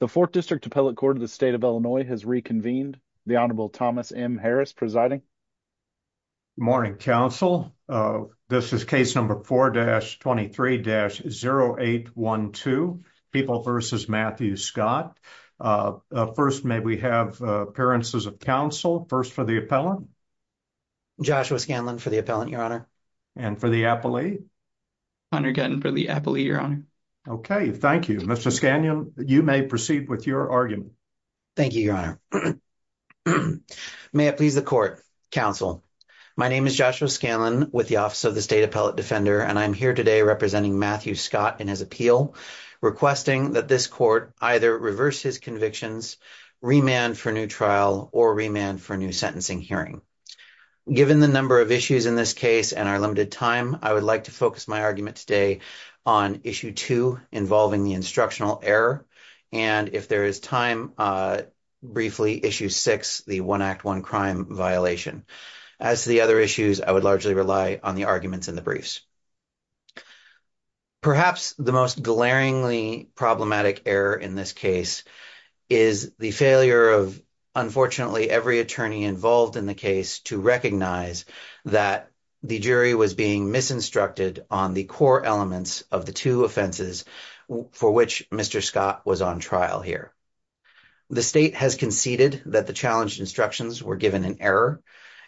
The Fourth District Appellate Court of the State of Illinois has reconvened. The Honorable Thomas M. Harris presiding. Good morning, counsel. This is case number 4-23-0812, People v. Matthew Scott. First, may we have appearances of counsel. First for the appellant. Joshua Scanlon for the appellant, your honor. And for the appellee? Hunter Guttin for the appellee, your honor. Okay, thank you. Mr. Scanlon, you may proceed with your argument. Thank you, your honor. May it please the court, counsel. My name is Joshua Scanlon with the Office of the State Appellate Defender, and I'm here today representing Matthew Scott in his appeal, requesting that this court either reverse his convictions, remand for new trial, or remand for new sentencing hearing. Given the number of issues in this case and our limited time, I would like to focus my argument today on Issue 2 involving the instructional error, and if there is time, briefly, Issue 6, the One Act, One Crime violation. As the other issues, I would largely rely on the arguments in the briefs. Perhaps the most glaringly problematic error in this case is the failure of, unfortunately, every attorney involved in the case to recognize that the jury was being misinstructed on the core elements of the two offenses for which Mr. Scott was on trial here. The state has conceded that the challenged instructions were given an error,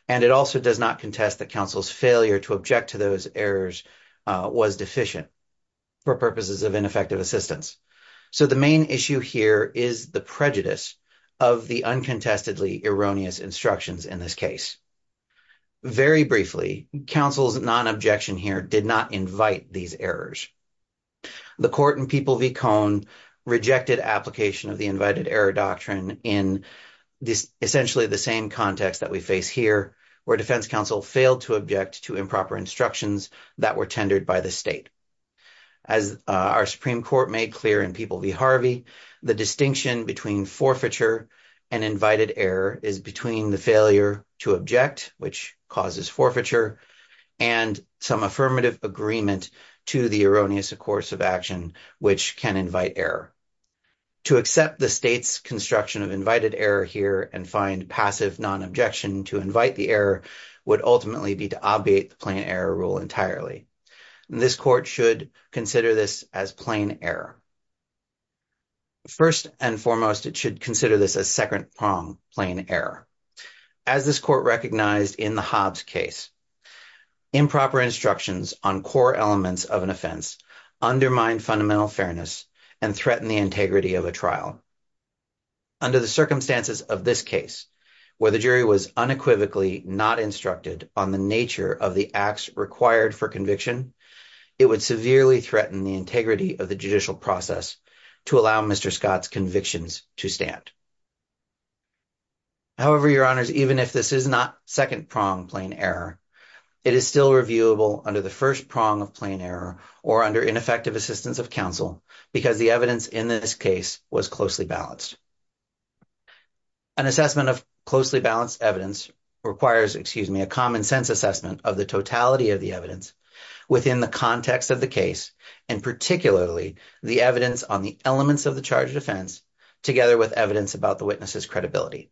and it also does not contest that counsel's failure to object to those errors was deficient for purposes of ineffective assistance. So the main issue here is the prejudice of the uncontestedly erroneous instructions in this case. Very briefly, counsel's non-objection here did not invite these errors. The court in People v. Cohn rejected application of the Invited Error Doctrine in essentially the same context that we face here, where defense counsel failed to object to improper instructions that were tendered by the state. As our Supreme Court made clear in People v. Harvey, the distinction between forfeiture and invited error is between the failure to object, which causes forfeiture, and some affirmative agreement to the erroneous course of action, which can invite error. To accept the state's construction of invited error here and find passive non-objection to invite the error would ultimately be to obviate the plain error rule entirely. This court should consider this as plain error. First and foremost, it should consider this as second-prong plain error. As this court recognized in the Hobbs case, improper instructions on core elements of an offense undermine fundamental fairness and threaten the integrity of a trial. Under the circumstances of this case, where the jury was unequivocally not instructed on the nature of the acts required for conviction, it would severely threaten the integrity of the judicial process to allow Mr. Scott's convictions to stand. However, Your Honors, even if this is not second-prong plain error, it is still reviewable under the first prong of plain error or under ineffective assistance of counsel because the evidence in this case was closely balanced. An assessment of closely balanced evidence requires, excuse me, a common-sense assessment of the totality of the evidence within the context of the case, and particularly the evidence on the elements of the charge of offense, together with evidence about the witness's credibility.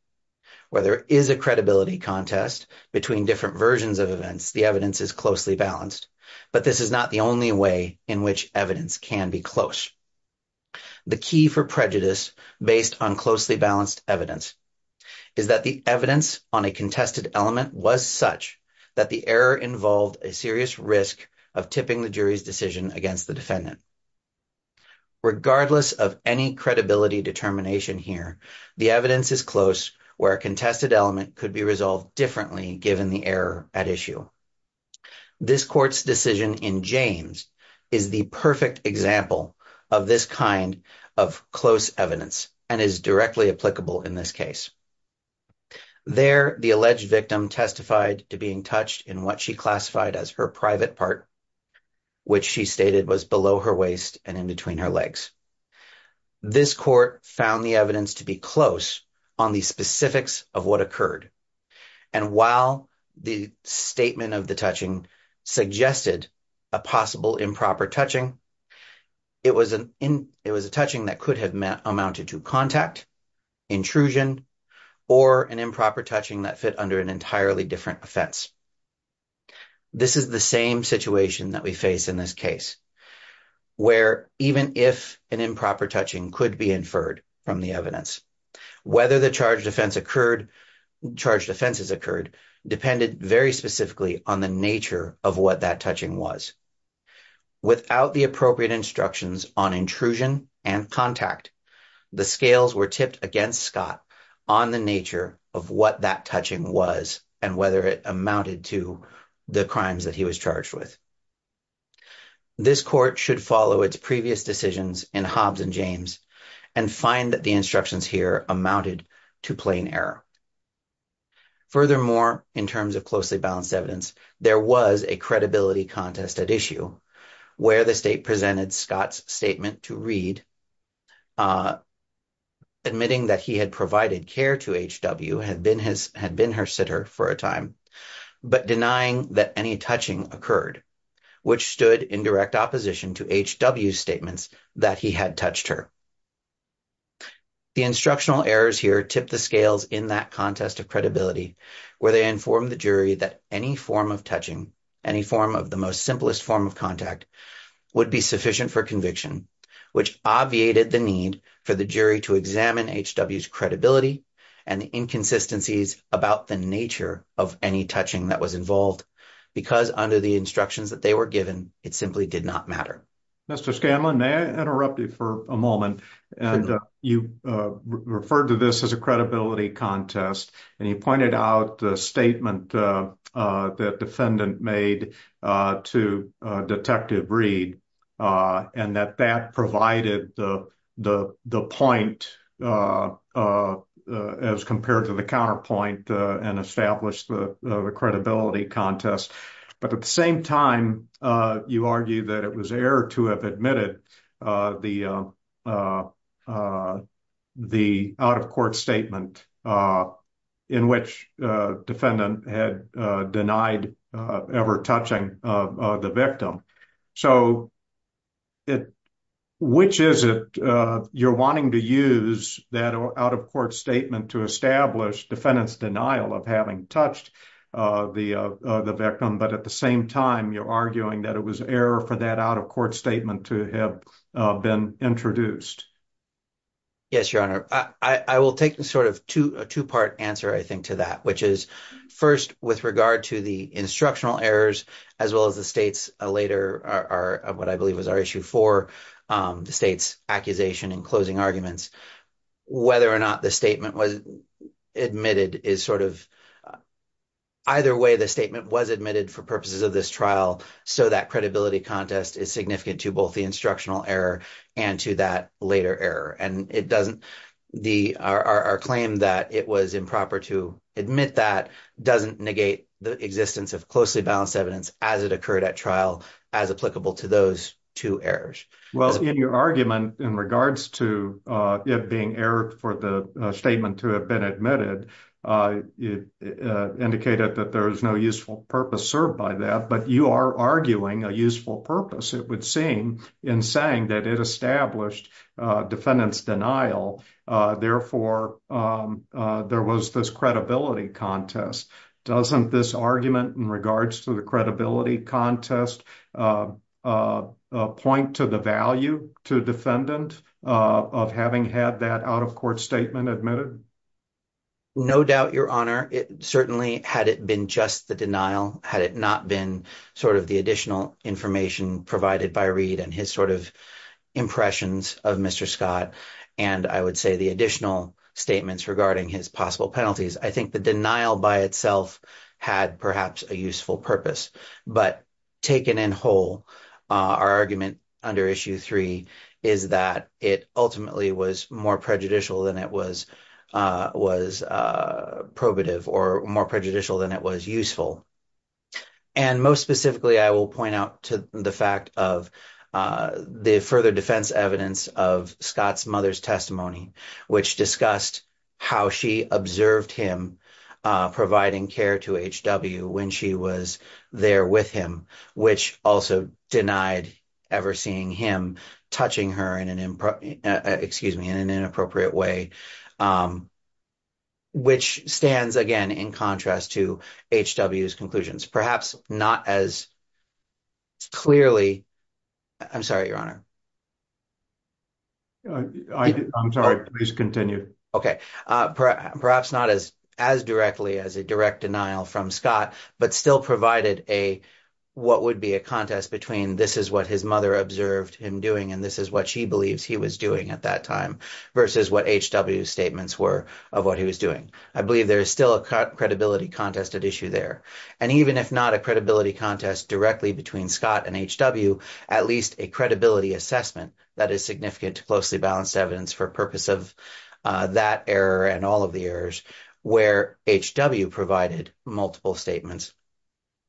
Where there is a credibility contest between different versions of events, the evidence is closely balanced, but this is not the only way in which evidence can be close. The key for prejudice based on closely balanced evidence is that the evidence on a contested element was such that the error involved a serious risk of tipping the jury's decision against the defendant. Regardless of any credibility determination here, the evidence is close where a contested element could be resolved differently given the error at issue. This court's decision in James is the perfect example of this kind of close evidence and is directly applicable in this case. There, the alleged victim testified to being touched in what she classified as her private part, which she stated was below her waist and in between her legs. This court found the evidence to be close on the specifics of what occurred. And while the statement of the touching suggested a possible improper touching, it was a touching that could have amounted to contact, intrusion, or an improper touching that fit under an entirely different offense. This is the same situation that we face in this case, where even if an improper touching could be inferred from the evidence, whether the charged offenses occurred depended very specifically on the nature of what that touching was. Without the appropriate instructions on intrusion and contact, the scales were tipped against Scott on the nature of what that touching was and whether it amounted to the crimes that he was charged with. This court should follow its previous decisions in Hobbs and James and find that the instructions here amounted to plain error. Furthermore, in terms of closely balanced evidence, there was a credibility contest at issue where the state presented Scott's statement to Reed, admitting that he had provided care to H.W., had been her sitter for a time, but denying that any touching occurred, which stood in direct opposition to H.W.'s statements that he had touched her. The instructional errors here tipped the scales in that contest of credibility, where they informed the jury that any form of touching, any form of the most simplest form of contact, would be sufficient for conviction, which obviated the need for the jury to examine H.W.'s credibility and inconsistencies about the nature of any touching that was involved, because under the instructions that they were given, it simply did not matter. Mr. Scanlon, may I interrupt you for a moment? And you referred to this as a credibility contest, and you pointed out the statement that defendant made to Detective Reed and that that provided the point as compared to the counterpoint and established the credibility contest. But at the same time, you argue that it was error to have admitted the out-of-court statement in which defendant had denied ever touching the victim. So, which is it you're wanting to use that out-of-court statement to establish defendant's denial of having touched the victim, but at the same time, you're arguing that it was error for that out-of-court statement to have been introduced? Yes, Your Honor. I will take sort of a two-part answer, I think, to that, which is, first, with regard to the instructional errors, as well as the State's later, what I believe was our issue four, the State's accusation and closing arguments, whether or not the statement was admitted is sort of either way the statement was admitted for purposes of this trial. So, that credibility contest is significant to both the instructional error and to that later error. And it doesn't, our claim that it was improper to admit that doesn't negate the existence of closely balanced evidence as it occurred at trial as applicable to those two errors. Well, in your argument in regards to it being error for the statement to have been admitted, it indicated that there is no useful purpose served by that, but you are arguing a useful purpose, it would seem, in saying that it established defendant's denial. Therefore, there was this credibility contest. Doesn't this argument in regards to the credibility contest point to the value to defendant of having had that out-of-court statement admitted? No doubt, Your Honor. Certainly, had it been just the denial, had it not been sort of the additional information provided by Reid and his sort of impressions of Mr. Scott, and I would say the additional statements regarding his possible penalties, I think the denial by itself had perhaps a useful purpose. But taken in whole, our argument under Issue 3 is that it ultimately was more prejudicial than it was probative or more prejudicial than it was useful. And most specifically, I will point out to the fact of the further defense evidence of Scott's mother's testimony, which discussed how she observed him providing care to H.W. when she was there with him, which also denied ever seeing him touching her in an inappropriate way, which stands again in contrast to H.W.'s conclusions, perhaps not as clearly. I'm sorry, Your Honor. I'm sorry, please continue. Okay, perhaps not as directly as a direct denial from Scott, but still provided a what would be a contest between this is what his mother observed him doing and this is what she believes he was doing at that time versus what H.W.'s statements were of what he was doing. I believe there is still a credibility contest at issue there. And even if not a credibility contest directly between Scott and H.W., at least a credibility assessment that is significant to closely balanced evidence for purpose of that error and all of the errors where H.W. provided multiple statements.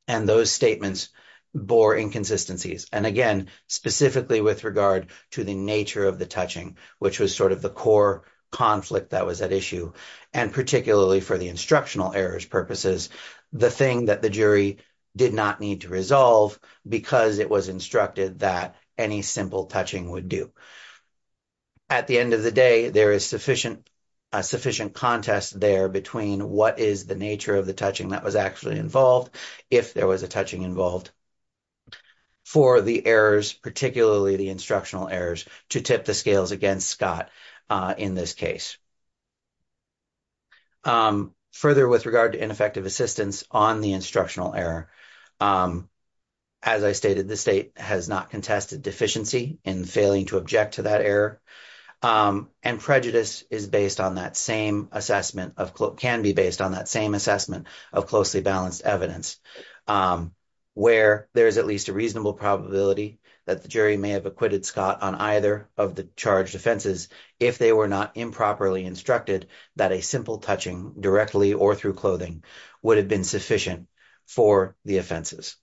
And those statements bore inconsistencies. And again, specifically with regard to the nature of the touching, which was sort of the core conflict that was at issue, and particularly for the instructional errors purposes, the thing that the jury did not need to resolve because it was instructed that any simple touching would do. At the end of the day, there is sufficient contest there between what is the nature of the touching that was actually involved, if there was a touching involved for the errors, particularly the instructional errors, to tip the scales against Scott in this case. Further, with regard to ineffective assistance on the instructional error, as I stated, the state has not contested deficiency in failing to object to that error. And prejudice is based on that same assessment of can be based on that same assessment of closely balanced evidence where there is at least a reasonable probability that the jury may have acquitted Scott on either of the charged offenses if they were not improperly instructed. That a simple touching directly or through clothing would have been sufficient for the offenses.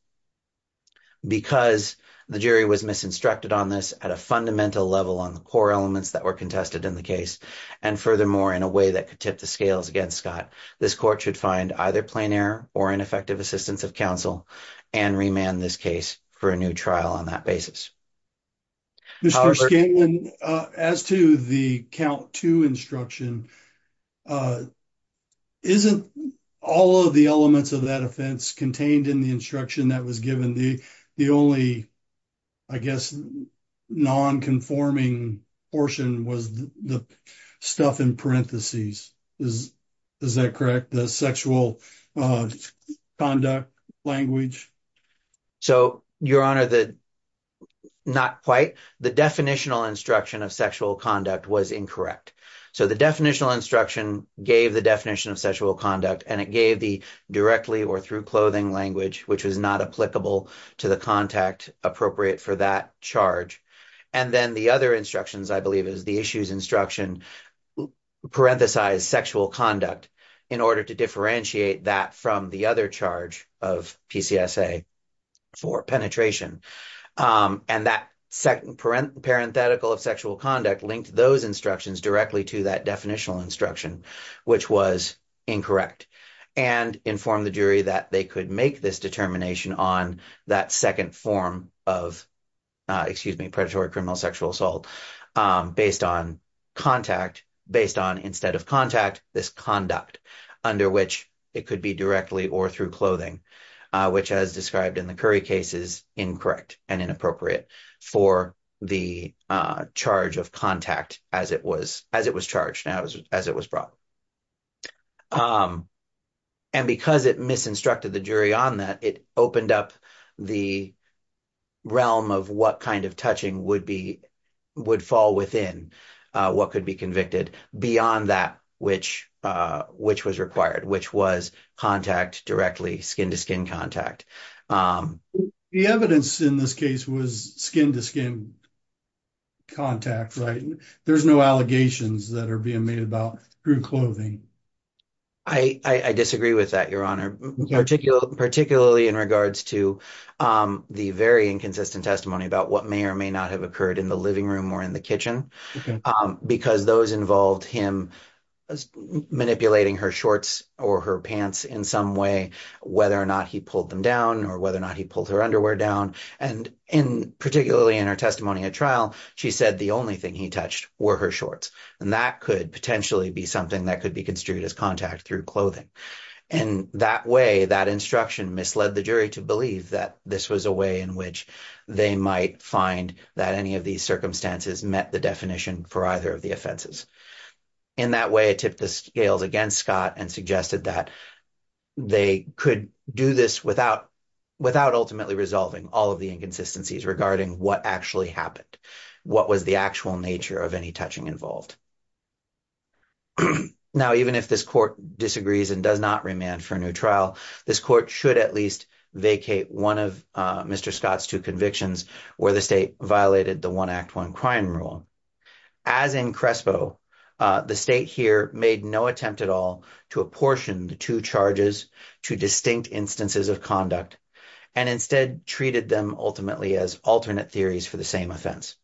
Because the jury was misinstructed on this at a fundamental level on the core elements that were contested in the case, and furthermore, in a way that could tip the scales against Scott, this court should find either plain error or ineffective assistance of counsel and remand this case for a new trial on that basis. As to the count to instruction. Isn't all of the elements of that offense contained in the instruction that was given the, the only. I guess, non conforming portion was the stuff in parentheses. Is that correct the sexual conduct language. So, your honor the not quite the definitional instruction of sexual conduct was incorrect. So the definitional instruction gave the definition of sexual conduct and it gave the directly or through clothing language, which was not applicable to the contact appropriate for that charge. And then the other instructions, I believe, is the issues instruction, parenthesize sexual conduct in order to differentiate that from the other charge of for penetration. And that second parenthetical of sexual conduct linked those instructions directly to that definitional instruction, which was incorrect and inform the jury that they could make this determination on that 2nd form of. Excuse me, predatory criminal sexual assault based on contact based on instead of contact this conduct under which it could be directly or through clothing, which as described in the curry cases, incorrect and inappropriate for the charge of contact as it was as it was charged as it was brought. And because it misinstructed the jury on that, it opened up the. Realm of what kind of touching would be would fall within what could be convicted beyond that, which which was required, which was contact directly skin to skin contact the evidence in this case was skin to skin. Contact right there's no allegations that are being made about through clothing. I disagree with that your honor particular, particularly in regards to the very inconsistent testimony about what may or may not have occurred in the living room or in the kitchen because those involved him. Manipulating her shorts or her pants in some way, whether or not he pulled them down, or whether or not he pulled her underwear down and in particularly in our testimony at trial. She said the only thing he touched were her shorts and that could potentially be something that could be construed as contact through clothing. And that way that instruction misled the jury to believe that this was a way in which they might find that any of these circumstances met the definition for either of the offenses. In that way, tip the scales against Scott and suggested that they could do this without without ultimately resolving all of the inconsistencies regarding what actually happened. What was the actual nature of any touching involved? Now, even if this court disagrees and does not remand for a new trial, this court should at least vacate one of Mr Scott's two convictions where the state violated the one act one crime rule. As in Crespo, the state here made no attempt at all to apportion the two charges to distinct instances of conduct and instead treated them ultimately as alternate theories for the same offense.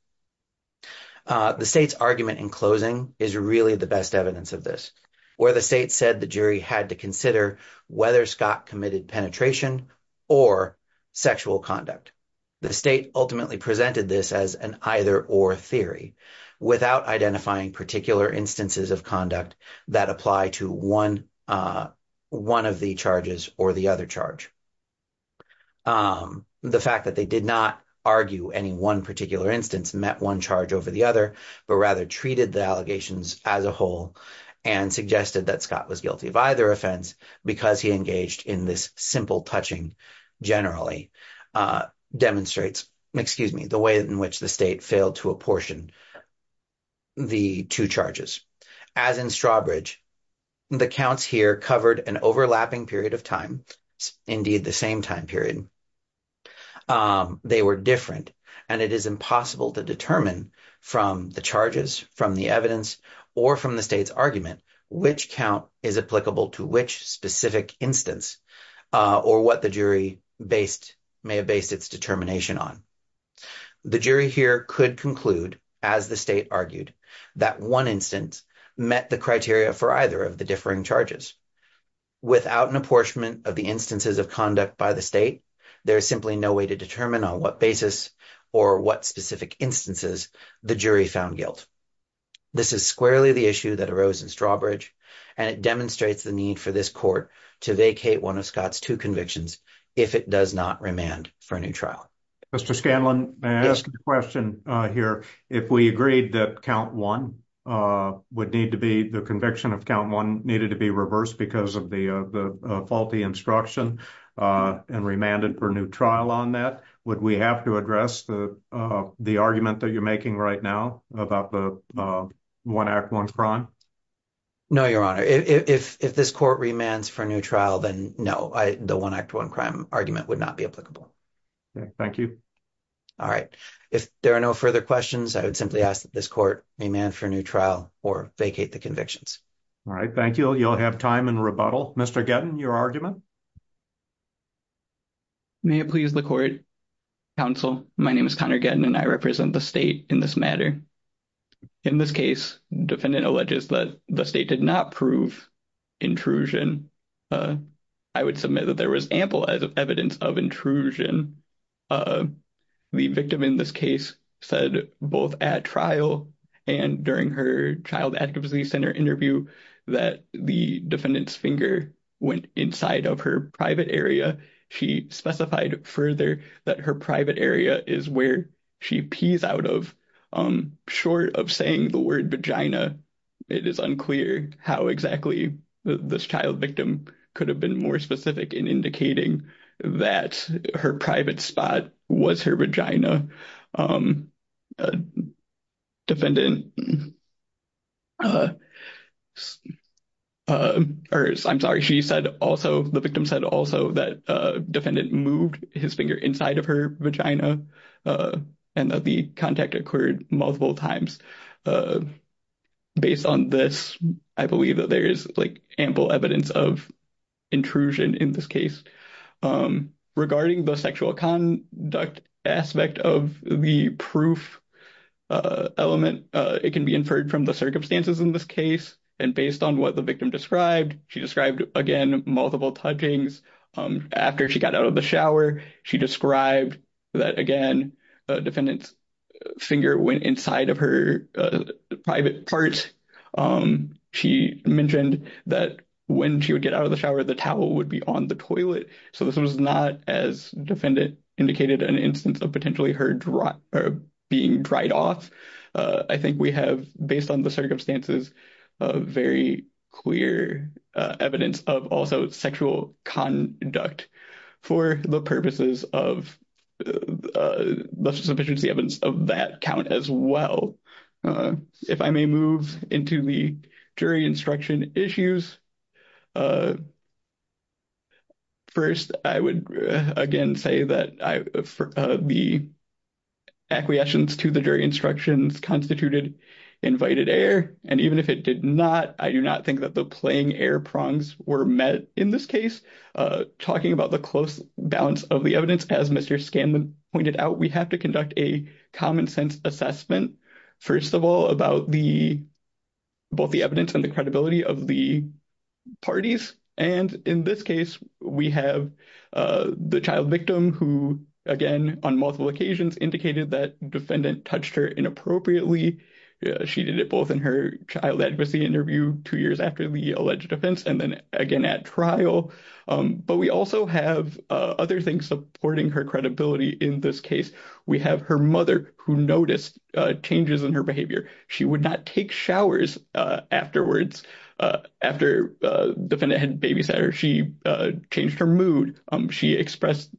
The state's argument in closing is really the best evidence of this where the state said the jury had to consider whether Scott committed penetration or sexual conduct. The state ultimately presented this as an either or theory without identifying particular instances of conduct that apply to one of the charges or the other charge. The fact that they did not argue any one particular instance met one charge over the other, but rather treated the allegations as a whole and suggested that Scott was guilty of either offense because he engaged in this simple touching generally demonstrates, excuse me, the way in which the state failed to apportion the two charges. As in Strawbridge, the counts here covered an overlapping period of time, indeed the same time period. They were different and it is impossible to determine from the charges, from the evidence, or from the state's argument, which count is applicable to which specific instance or what the jury based may have based its determination on. The jury here could conclude, as the state argued, that one instance met the criteria for either of the differing charges. Without an apportionment of the instances of conduct by the state, there is simply no way to determine on what basis or what specific instances the jury found guilt. This is squarely the issue that arose in Strawbridge and it demonstrates the need for this court to vacate one of Scott's two convictions if it does not remand for a new trial. Mr. Scanlon, may I ask a question here? If we agreed that count one would need to be, the conviction of count one needed to be reversed because of the faulty instruction and remanded for a new trial on that, would we have to address the argument that you're making right now about the one act, one crime? No, Your Honor. If this court remands for a new trial, then no, the one act, one crime argument would not be applicable. Thank you. All right. If there are no further questions, I would simply ask that this court remand for a new trial or vacate the convictions. All right. Thank you. You'll have time in rebuttal. Mr. Gettin, your argument? May it please the court, counsel, my name is Connor Gettin and I represent the state in this matter. In this case, defendant alleges that the state did not prove intrusion. I would submit that there was ample evidence of intrusion. The victim in this case said both at trial and during her Child Activity Center interview that the defendant's finger went inside of her private area. She specified further that her private area is where she pees out of. Short of saying the word vagina, it is unclear how exactly this child victim could have been more specific in indicating that her private spot was her vagina. The victim said also that defendant moved his finger inside of her vagina and that the contact occurred multiple times. Based on this, I believe that there is ample evidence of intrusion in this case. Regarding the sexual conduct aspect of the proof element, it can be inferred from the circumstances in this case. And based on what the victim described, she described, again, multiple touchings. After she got out of the shower, she described that, again, the defendant's finger went inside of her private part. She mentioned that when she would get out of the shower, the towel would be on the toilet. So this was not, as defendant indicated, an instance of potentially her being dried off. I think we have, based on the circumstances, very clear evidence of also sexual conduct for the purposes of the sufficiency evidence of that count as well. If I may move into the jury instruction issues, first, I would, again, say that the acquiescence to the jury instructions constituted invited error. And even if it did not, I do not think that the playing error prongs were met in this case. Talking about the close balance of the evidence, as Mr. Scanlon pointed out, we have to conduct a common-sense assessment, first of all, about both the evidence and the credibility of the parties. And in this case, we have the child victim who, again, on multiple occasions, indicated that defendant touched her inappropriately. She did it both in her child advocacy interview two years after the alleged offense and then again at trial. But we also have other things supporting her credibility in this case. We have her mother, who noticed changes in her behavior. She would not take showers afterwards. After the defendant had babysat her, she changed her mood. She expressed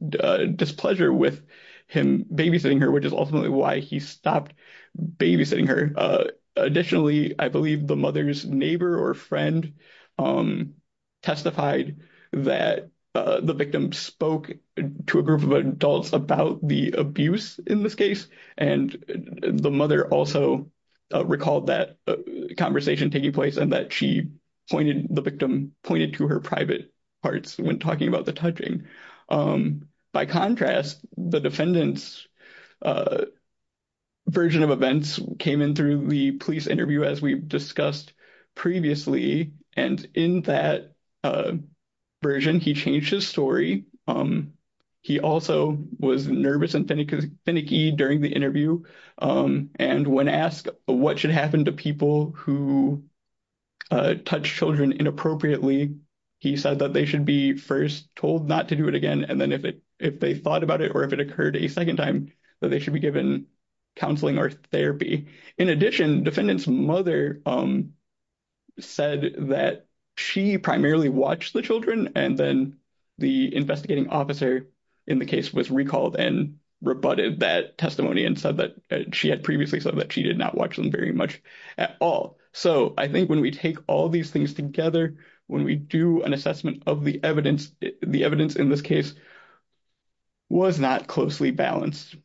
displeasure with him babysitting her, which is ultimately why he stopped babysitting her. Additionally, I believe the mother's neighbor or friend testified that the victim spoke to a group of adults about the abuse in this case. And the mother also recalled that conversation taking place and that the victim pointed to her private parts when talking about the touching. By contrast, the defendant's version of events came in through the police interview, as we discussed previously. And in that version, he changed his story. He also was nervous and finicky during the interview. And when asked what should happen to people who touch children inappropriately, he said that they should be first told not to do it again. And then if they thought about it or if it occurred a second time, that they should be given counseling or therapy. In addition, defendant's mother said that she primarily watched the children. And then the investigating officer in the case was recalled and rebutted that testimony and said that she had previously said that she did not watch them very much at all. So I think when we take all these things together, when we do an assessment of the evidence, the evidence in this case was not closely balanced.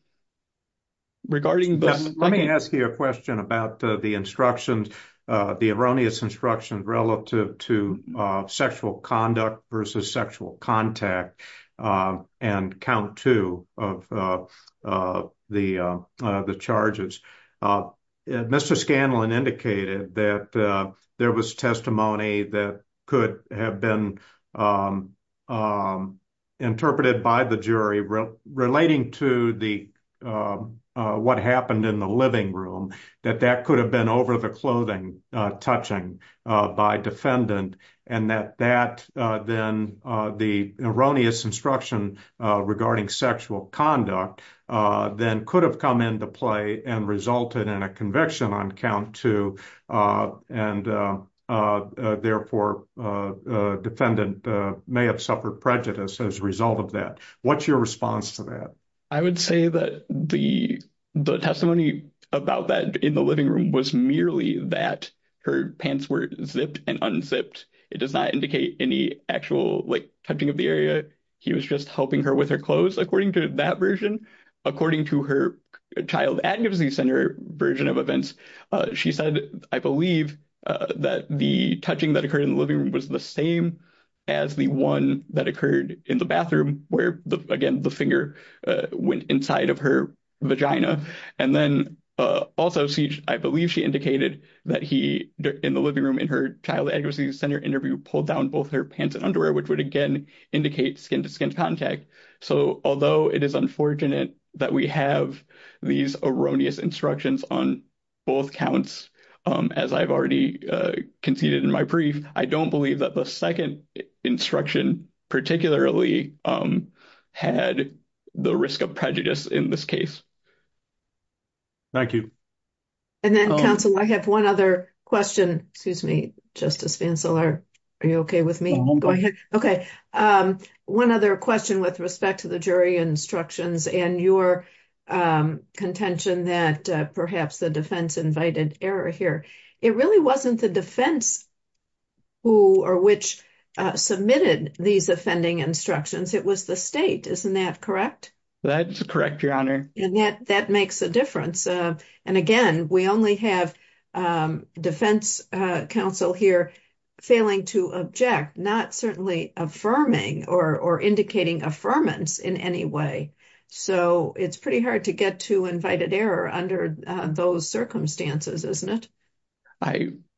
Let me ask you a question about the erroneous instructions relative to sexual conduct versus sexual contact and count two of the charges. Mr. Scanlon indicated that there was testimony that could have been interpreted by the jury relating to what happened in the living room. That that could have been over the clothing touching by defendant and that that then the erroneous instruction regarding sexual conduct then could have come into play and resulted in a conviction on count two. And therefore, defendant may have suffered prejudice as a result of that. What's your response to that? I would say that the testimony about that in the living room was merely that her pants were zipped and unzipped. It does not indicate any actual touching of the area. He was just helping her with her clothes, according to that version. According to her Child Advocacy Center version of events, she said, I believe that the touching that occurred in the living room was the same as the one that occurred in the bathroom where, again, the finger went inside of her vagina. And then also, I believe she indicated that he in the living room in her Child Advocacy Center interview pulled down both her pants and underwear, which would again indicate skin to skin contact. So, although it is unfortunate that we have these erroneous instructions on both counts, as I've already conceded in my brief, I don't believe that the second instruction particularly had the risk of prejudice in this case. Thank you. And then, counsel, I have one other question. Excuse me, Justice Vancell, are you okay with me? Go ahead. Okay. One other question with respect to the jury instructions and your contention that perhaps the defense invited error here. It really wasn't the defense who or which submitted these offending instructions. It was the state. Isn't that correct? That's correct, Your Honor. And that makes a difference. And again, we only have defense counsel here failing to object, not certainly affirming or indicating affirmance in any way. So, it's pretty hard to get to invited error under those circumstances, isn't it?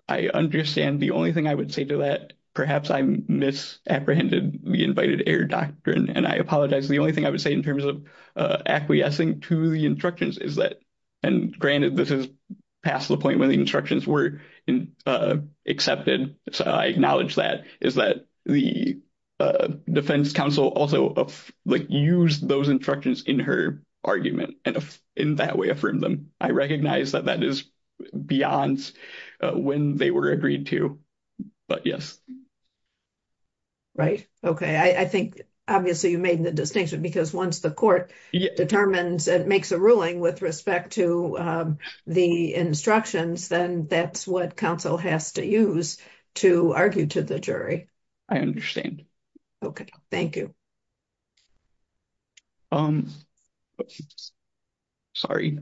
I understand. The only thing I would say to that, perhaps I misapprehended the invited error doctrine, and I apologize. The only thing I would say in terms of acquiescing to the instructions is that—and granted, this is past the point when the instructions were accepted, so I acknowledge that—is that the defense counsel also used those instructions in her argument and in that way affirmed them. I recognize that that is beyond when they were agreed to, but yes. Right. Okay. I think, obviously, you made the distinction because once the court determines and makes a ruling with respect to the instructions, then that's what counsel has to use to argue to the jury. I understand. Okay. Thank you. Sorry.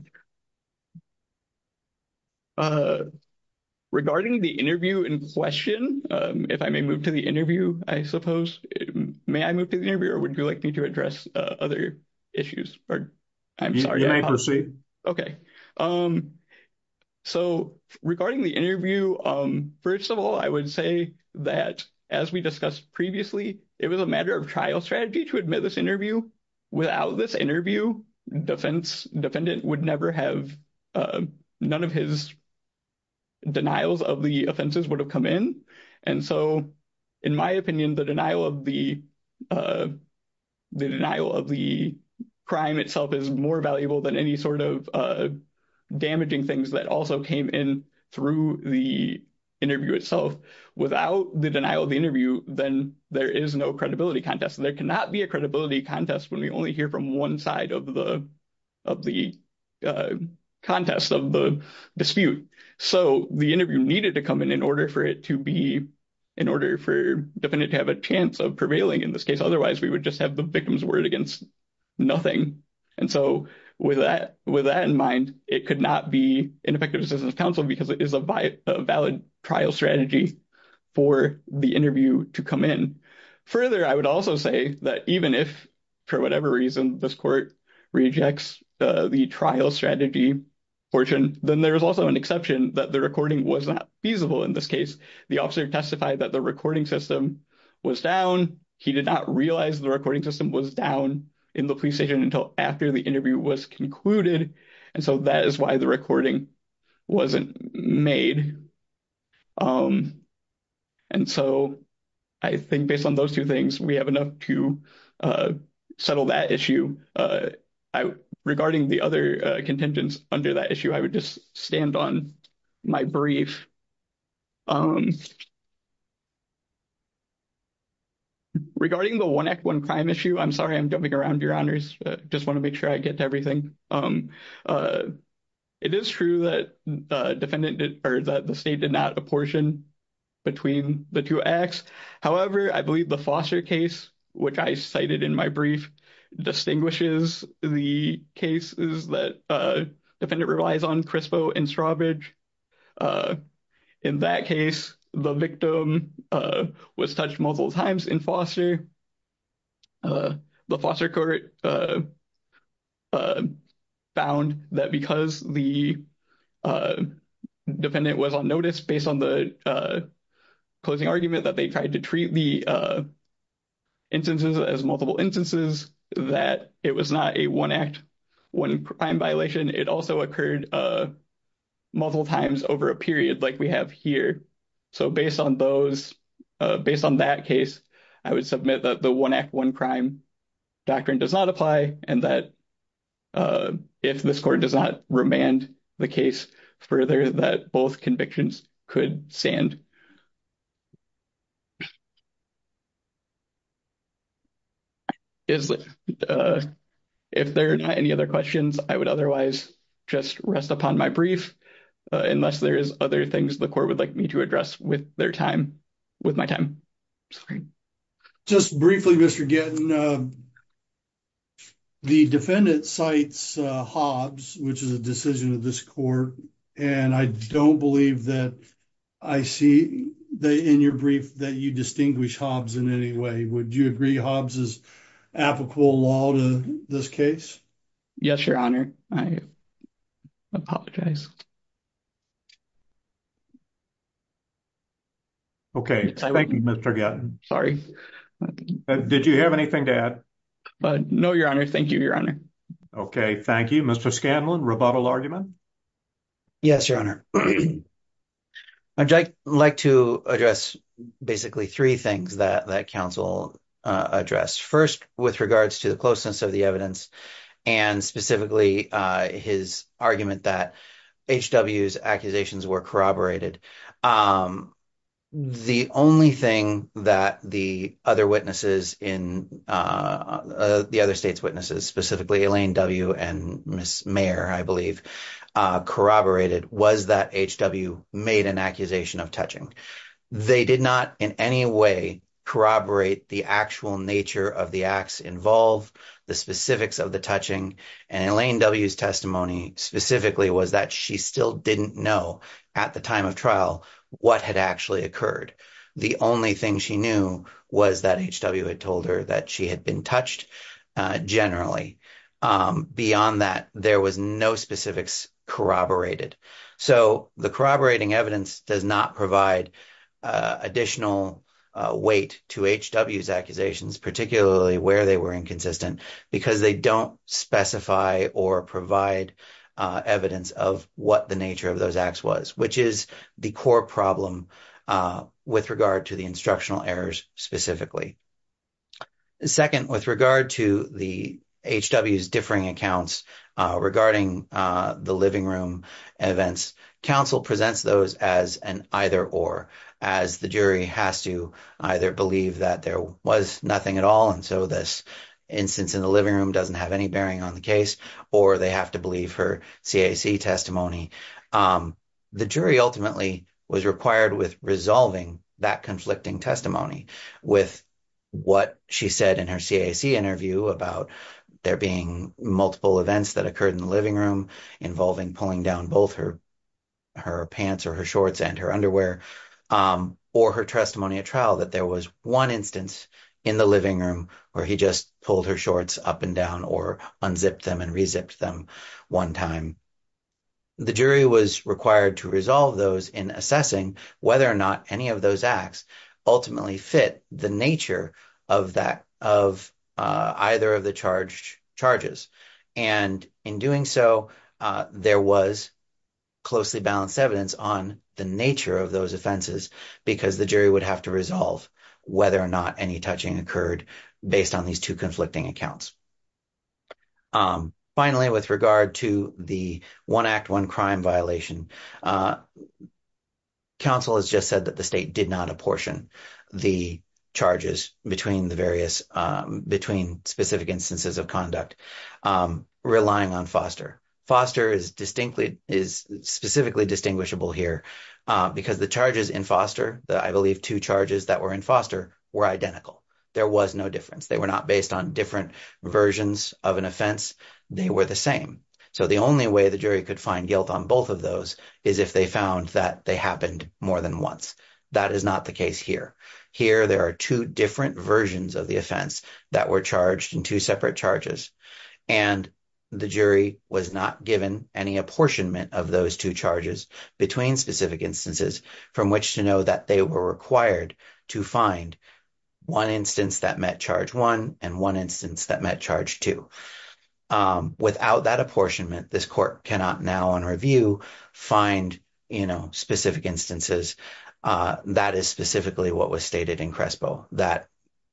Regarding the interview in question, if I may move to the interview, I suppose—may I move to the interview, or would you like me to address other issues? You may proceed. Okay. So regarding the interview, first of all, I would say that, as we discussed previously, it was a matter of trial strategy to admit this interview. Without this interview, defendant would never have—none of his denials of the offenses would have come in, and so, in my opinion, the denial of the crime itself is more valuable than any sort of damaging things that also came in through the interview itself. Without the denial of the interview, then there is no credibility contest. There cannot be a credibility contest when we only hear from one side of the contest, of the dispute. So the interview needed to come in in order for it to be—in order for defendant to have a chance of prevailing in this case. Otherwise, we would just have the victim's word against nothing. And so with that in mind, it could not be ineffective assistance to counsel because it is a valid trial strategy for the interview to come in. Further, I would also say that even if, for whatever reason, this court rejects the trial strategy portion, then there is also an exception that the recording was not feasible in this case. The officer testified that the recording system was down. He did not realize the recording system was down in the police station until after the interview was concluded, and so that is why the recording wasn't made. And so I think based on those two things, we have enough to settle that issue. Regarding the other contingents under that issue, I would just stand on my brief. Regarding the One Act, One Crime issue, I'm sorry I'm jumping around, Your Honors. I just want to make sure I get to everything. It is true that the state did not apportion between the two acts. However, I believe the Foster case, which I cited in my brief, distinguishes the cases that defendant relies on, Crispo and Strawbridge. In that case, the victim was touched multiple times in Foster. The Foster court found that because the defendant was on notice based on the closing argument that they tried to treat the instances as multiple instances, that it was not a One Act, One Crime violation. It also occurred multiple times over a period like we have here. So based on those, based on that case, I would submit that the One Act, One Crime doctrine does not apply and that if this court does not remand the case further, that both convictions could stand. If there are not any other questions, I would otherwise just rest upon my brief, unless there is other things the court would like me to address with my time. Just briefly, Mr. Gettin, the defendant cites Hobbs, which is a decision of this court, and I don't believe that I see in your brief that you distinguish Hobbs in any way. Would you agree Hobbs is applicable law to this case? Yes, Your Honor. I apologize. Okay, thank you, Mr. Gettin. Sorry. Did you have anything to add? No, Your Honor. Thank you, Your Honor. Okay, thank you. Mr. Scanlon, rebuttal argument? Yes, Your Honor. I'd like to address basically three things that counsel addressed. First, with regards to the closeness of the evidence and specifically his argument that H.W.'s accusations were corroborated. The only thing that the other state's witnesses, specifically Elaine W. and Ms. Mayer, I believe, corroborated was that H.W. made an accusation of touching. They did not in any way corroborate the actual nature of the acts involved, the specifics of the touching, and Elaine W.'s testimony specifically was that she still didn't know at the time of trial what had actually occurred. The only thing she knew was that H.W. had told her that she had been touched generally. Beyond that, there was no specifics corroborated. So the corroborating evidence does not provide additional weight to H.W.'s accusations, particularly where they were inconsistent, because they don't specify or provide evidence of what the nature of those acts was, which is the core problem with regard to the instructional errors specifically. Second, with regard to H.W.'s differing accounts regarding the living room events, counsel presents those as an either-or, as the jury has to either believe that there was nothing at all, and so this instance in the living room doesn't have any bearing on the case, or they have to believe her CAC testimony. The jury ultimately was required with resolving that conflicting testimony with what she said in her CAC interview about there being multiple events that occurred in the living room involving pulling down both her pants or her shorts and her underwear, or her testimony at trial that there was one instance in the living room where he just pulled her shorts up and down or unzipped them and re-zipped them one time. The jury was required to resolve those in assessing whether or not any of those acts ultimately fit the nature of either of the charged charges, and in doing so, there was closely balanced evidence on the nature of those offenses because the jury would have to resolve whether or not any touching occurred based on these two conflicting accounts. Finally, with regard to the one-act, one-crime violation, counsel has just said that the state did not apportion the charges between specific instances of conduct relying on Foster. Foster is specifically distinguishable here because the charges in Foster, I believe two charges that were in Foster, were identical. There was no difference. They were not based on different versions of an offense. They were the same. So the only way the jury could find guilt on both of those is if they found that they happened more than once. That is not the case here. Here, there are two different versions of the offense that were charged in two separate charges, and the jury was not given any apportionment of those two charges between specific instances from which to know that they were required to find one instance that met charge one and one instance that met charge two. Without that apportionment, this court cannot now, on review, find specific instances. That is specifically what was stated in CRESPO, that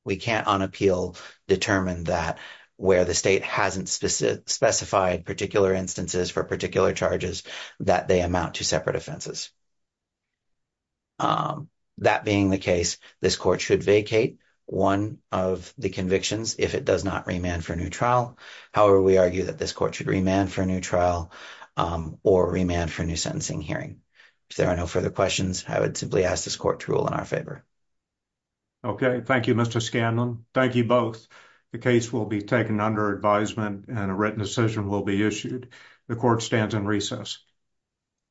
we can't, on appeal, determine that where the state hasn't specified particular instances for particular charges, that they amount to separate offenses. That being the case, this court should vacate one of the convictions if it does not remand for a new trial. However, we argue that this court should remand for a new trial or remand for a new sentencing hearing. If there are no further questions, I would simply ask this court to rule in our favor. Okay. Thank you, Mr. Scanlon. Thank you both. The case will be taken under advisement and a written decision will be issued. The court stands in recess.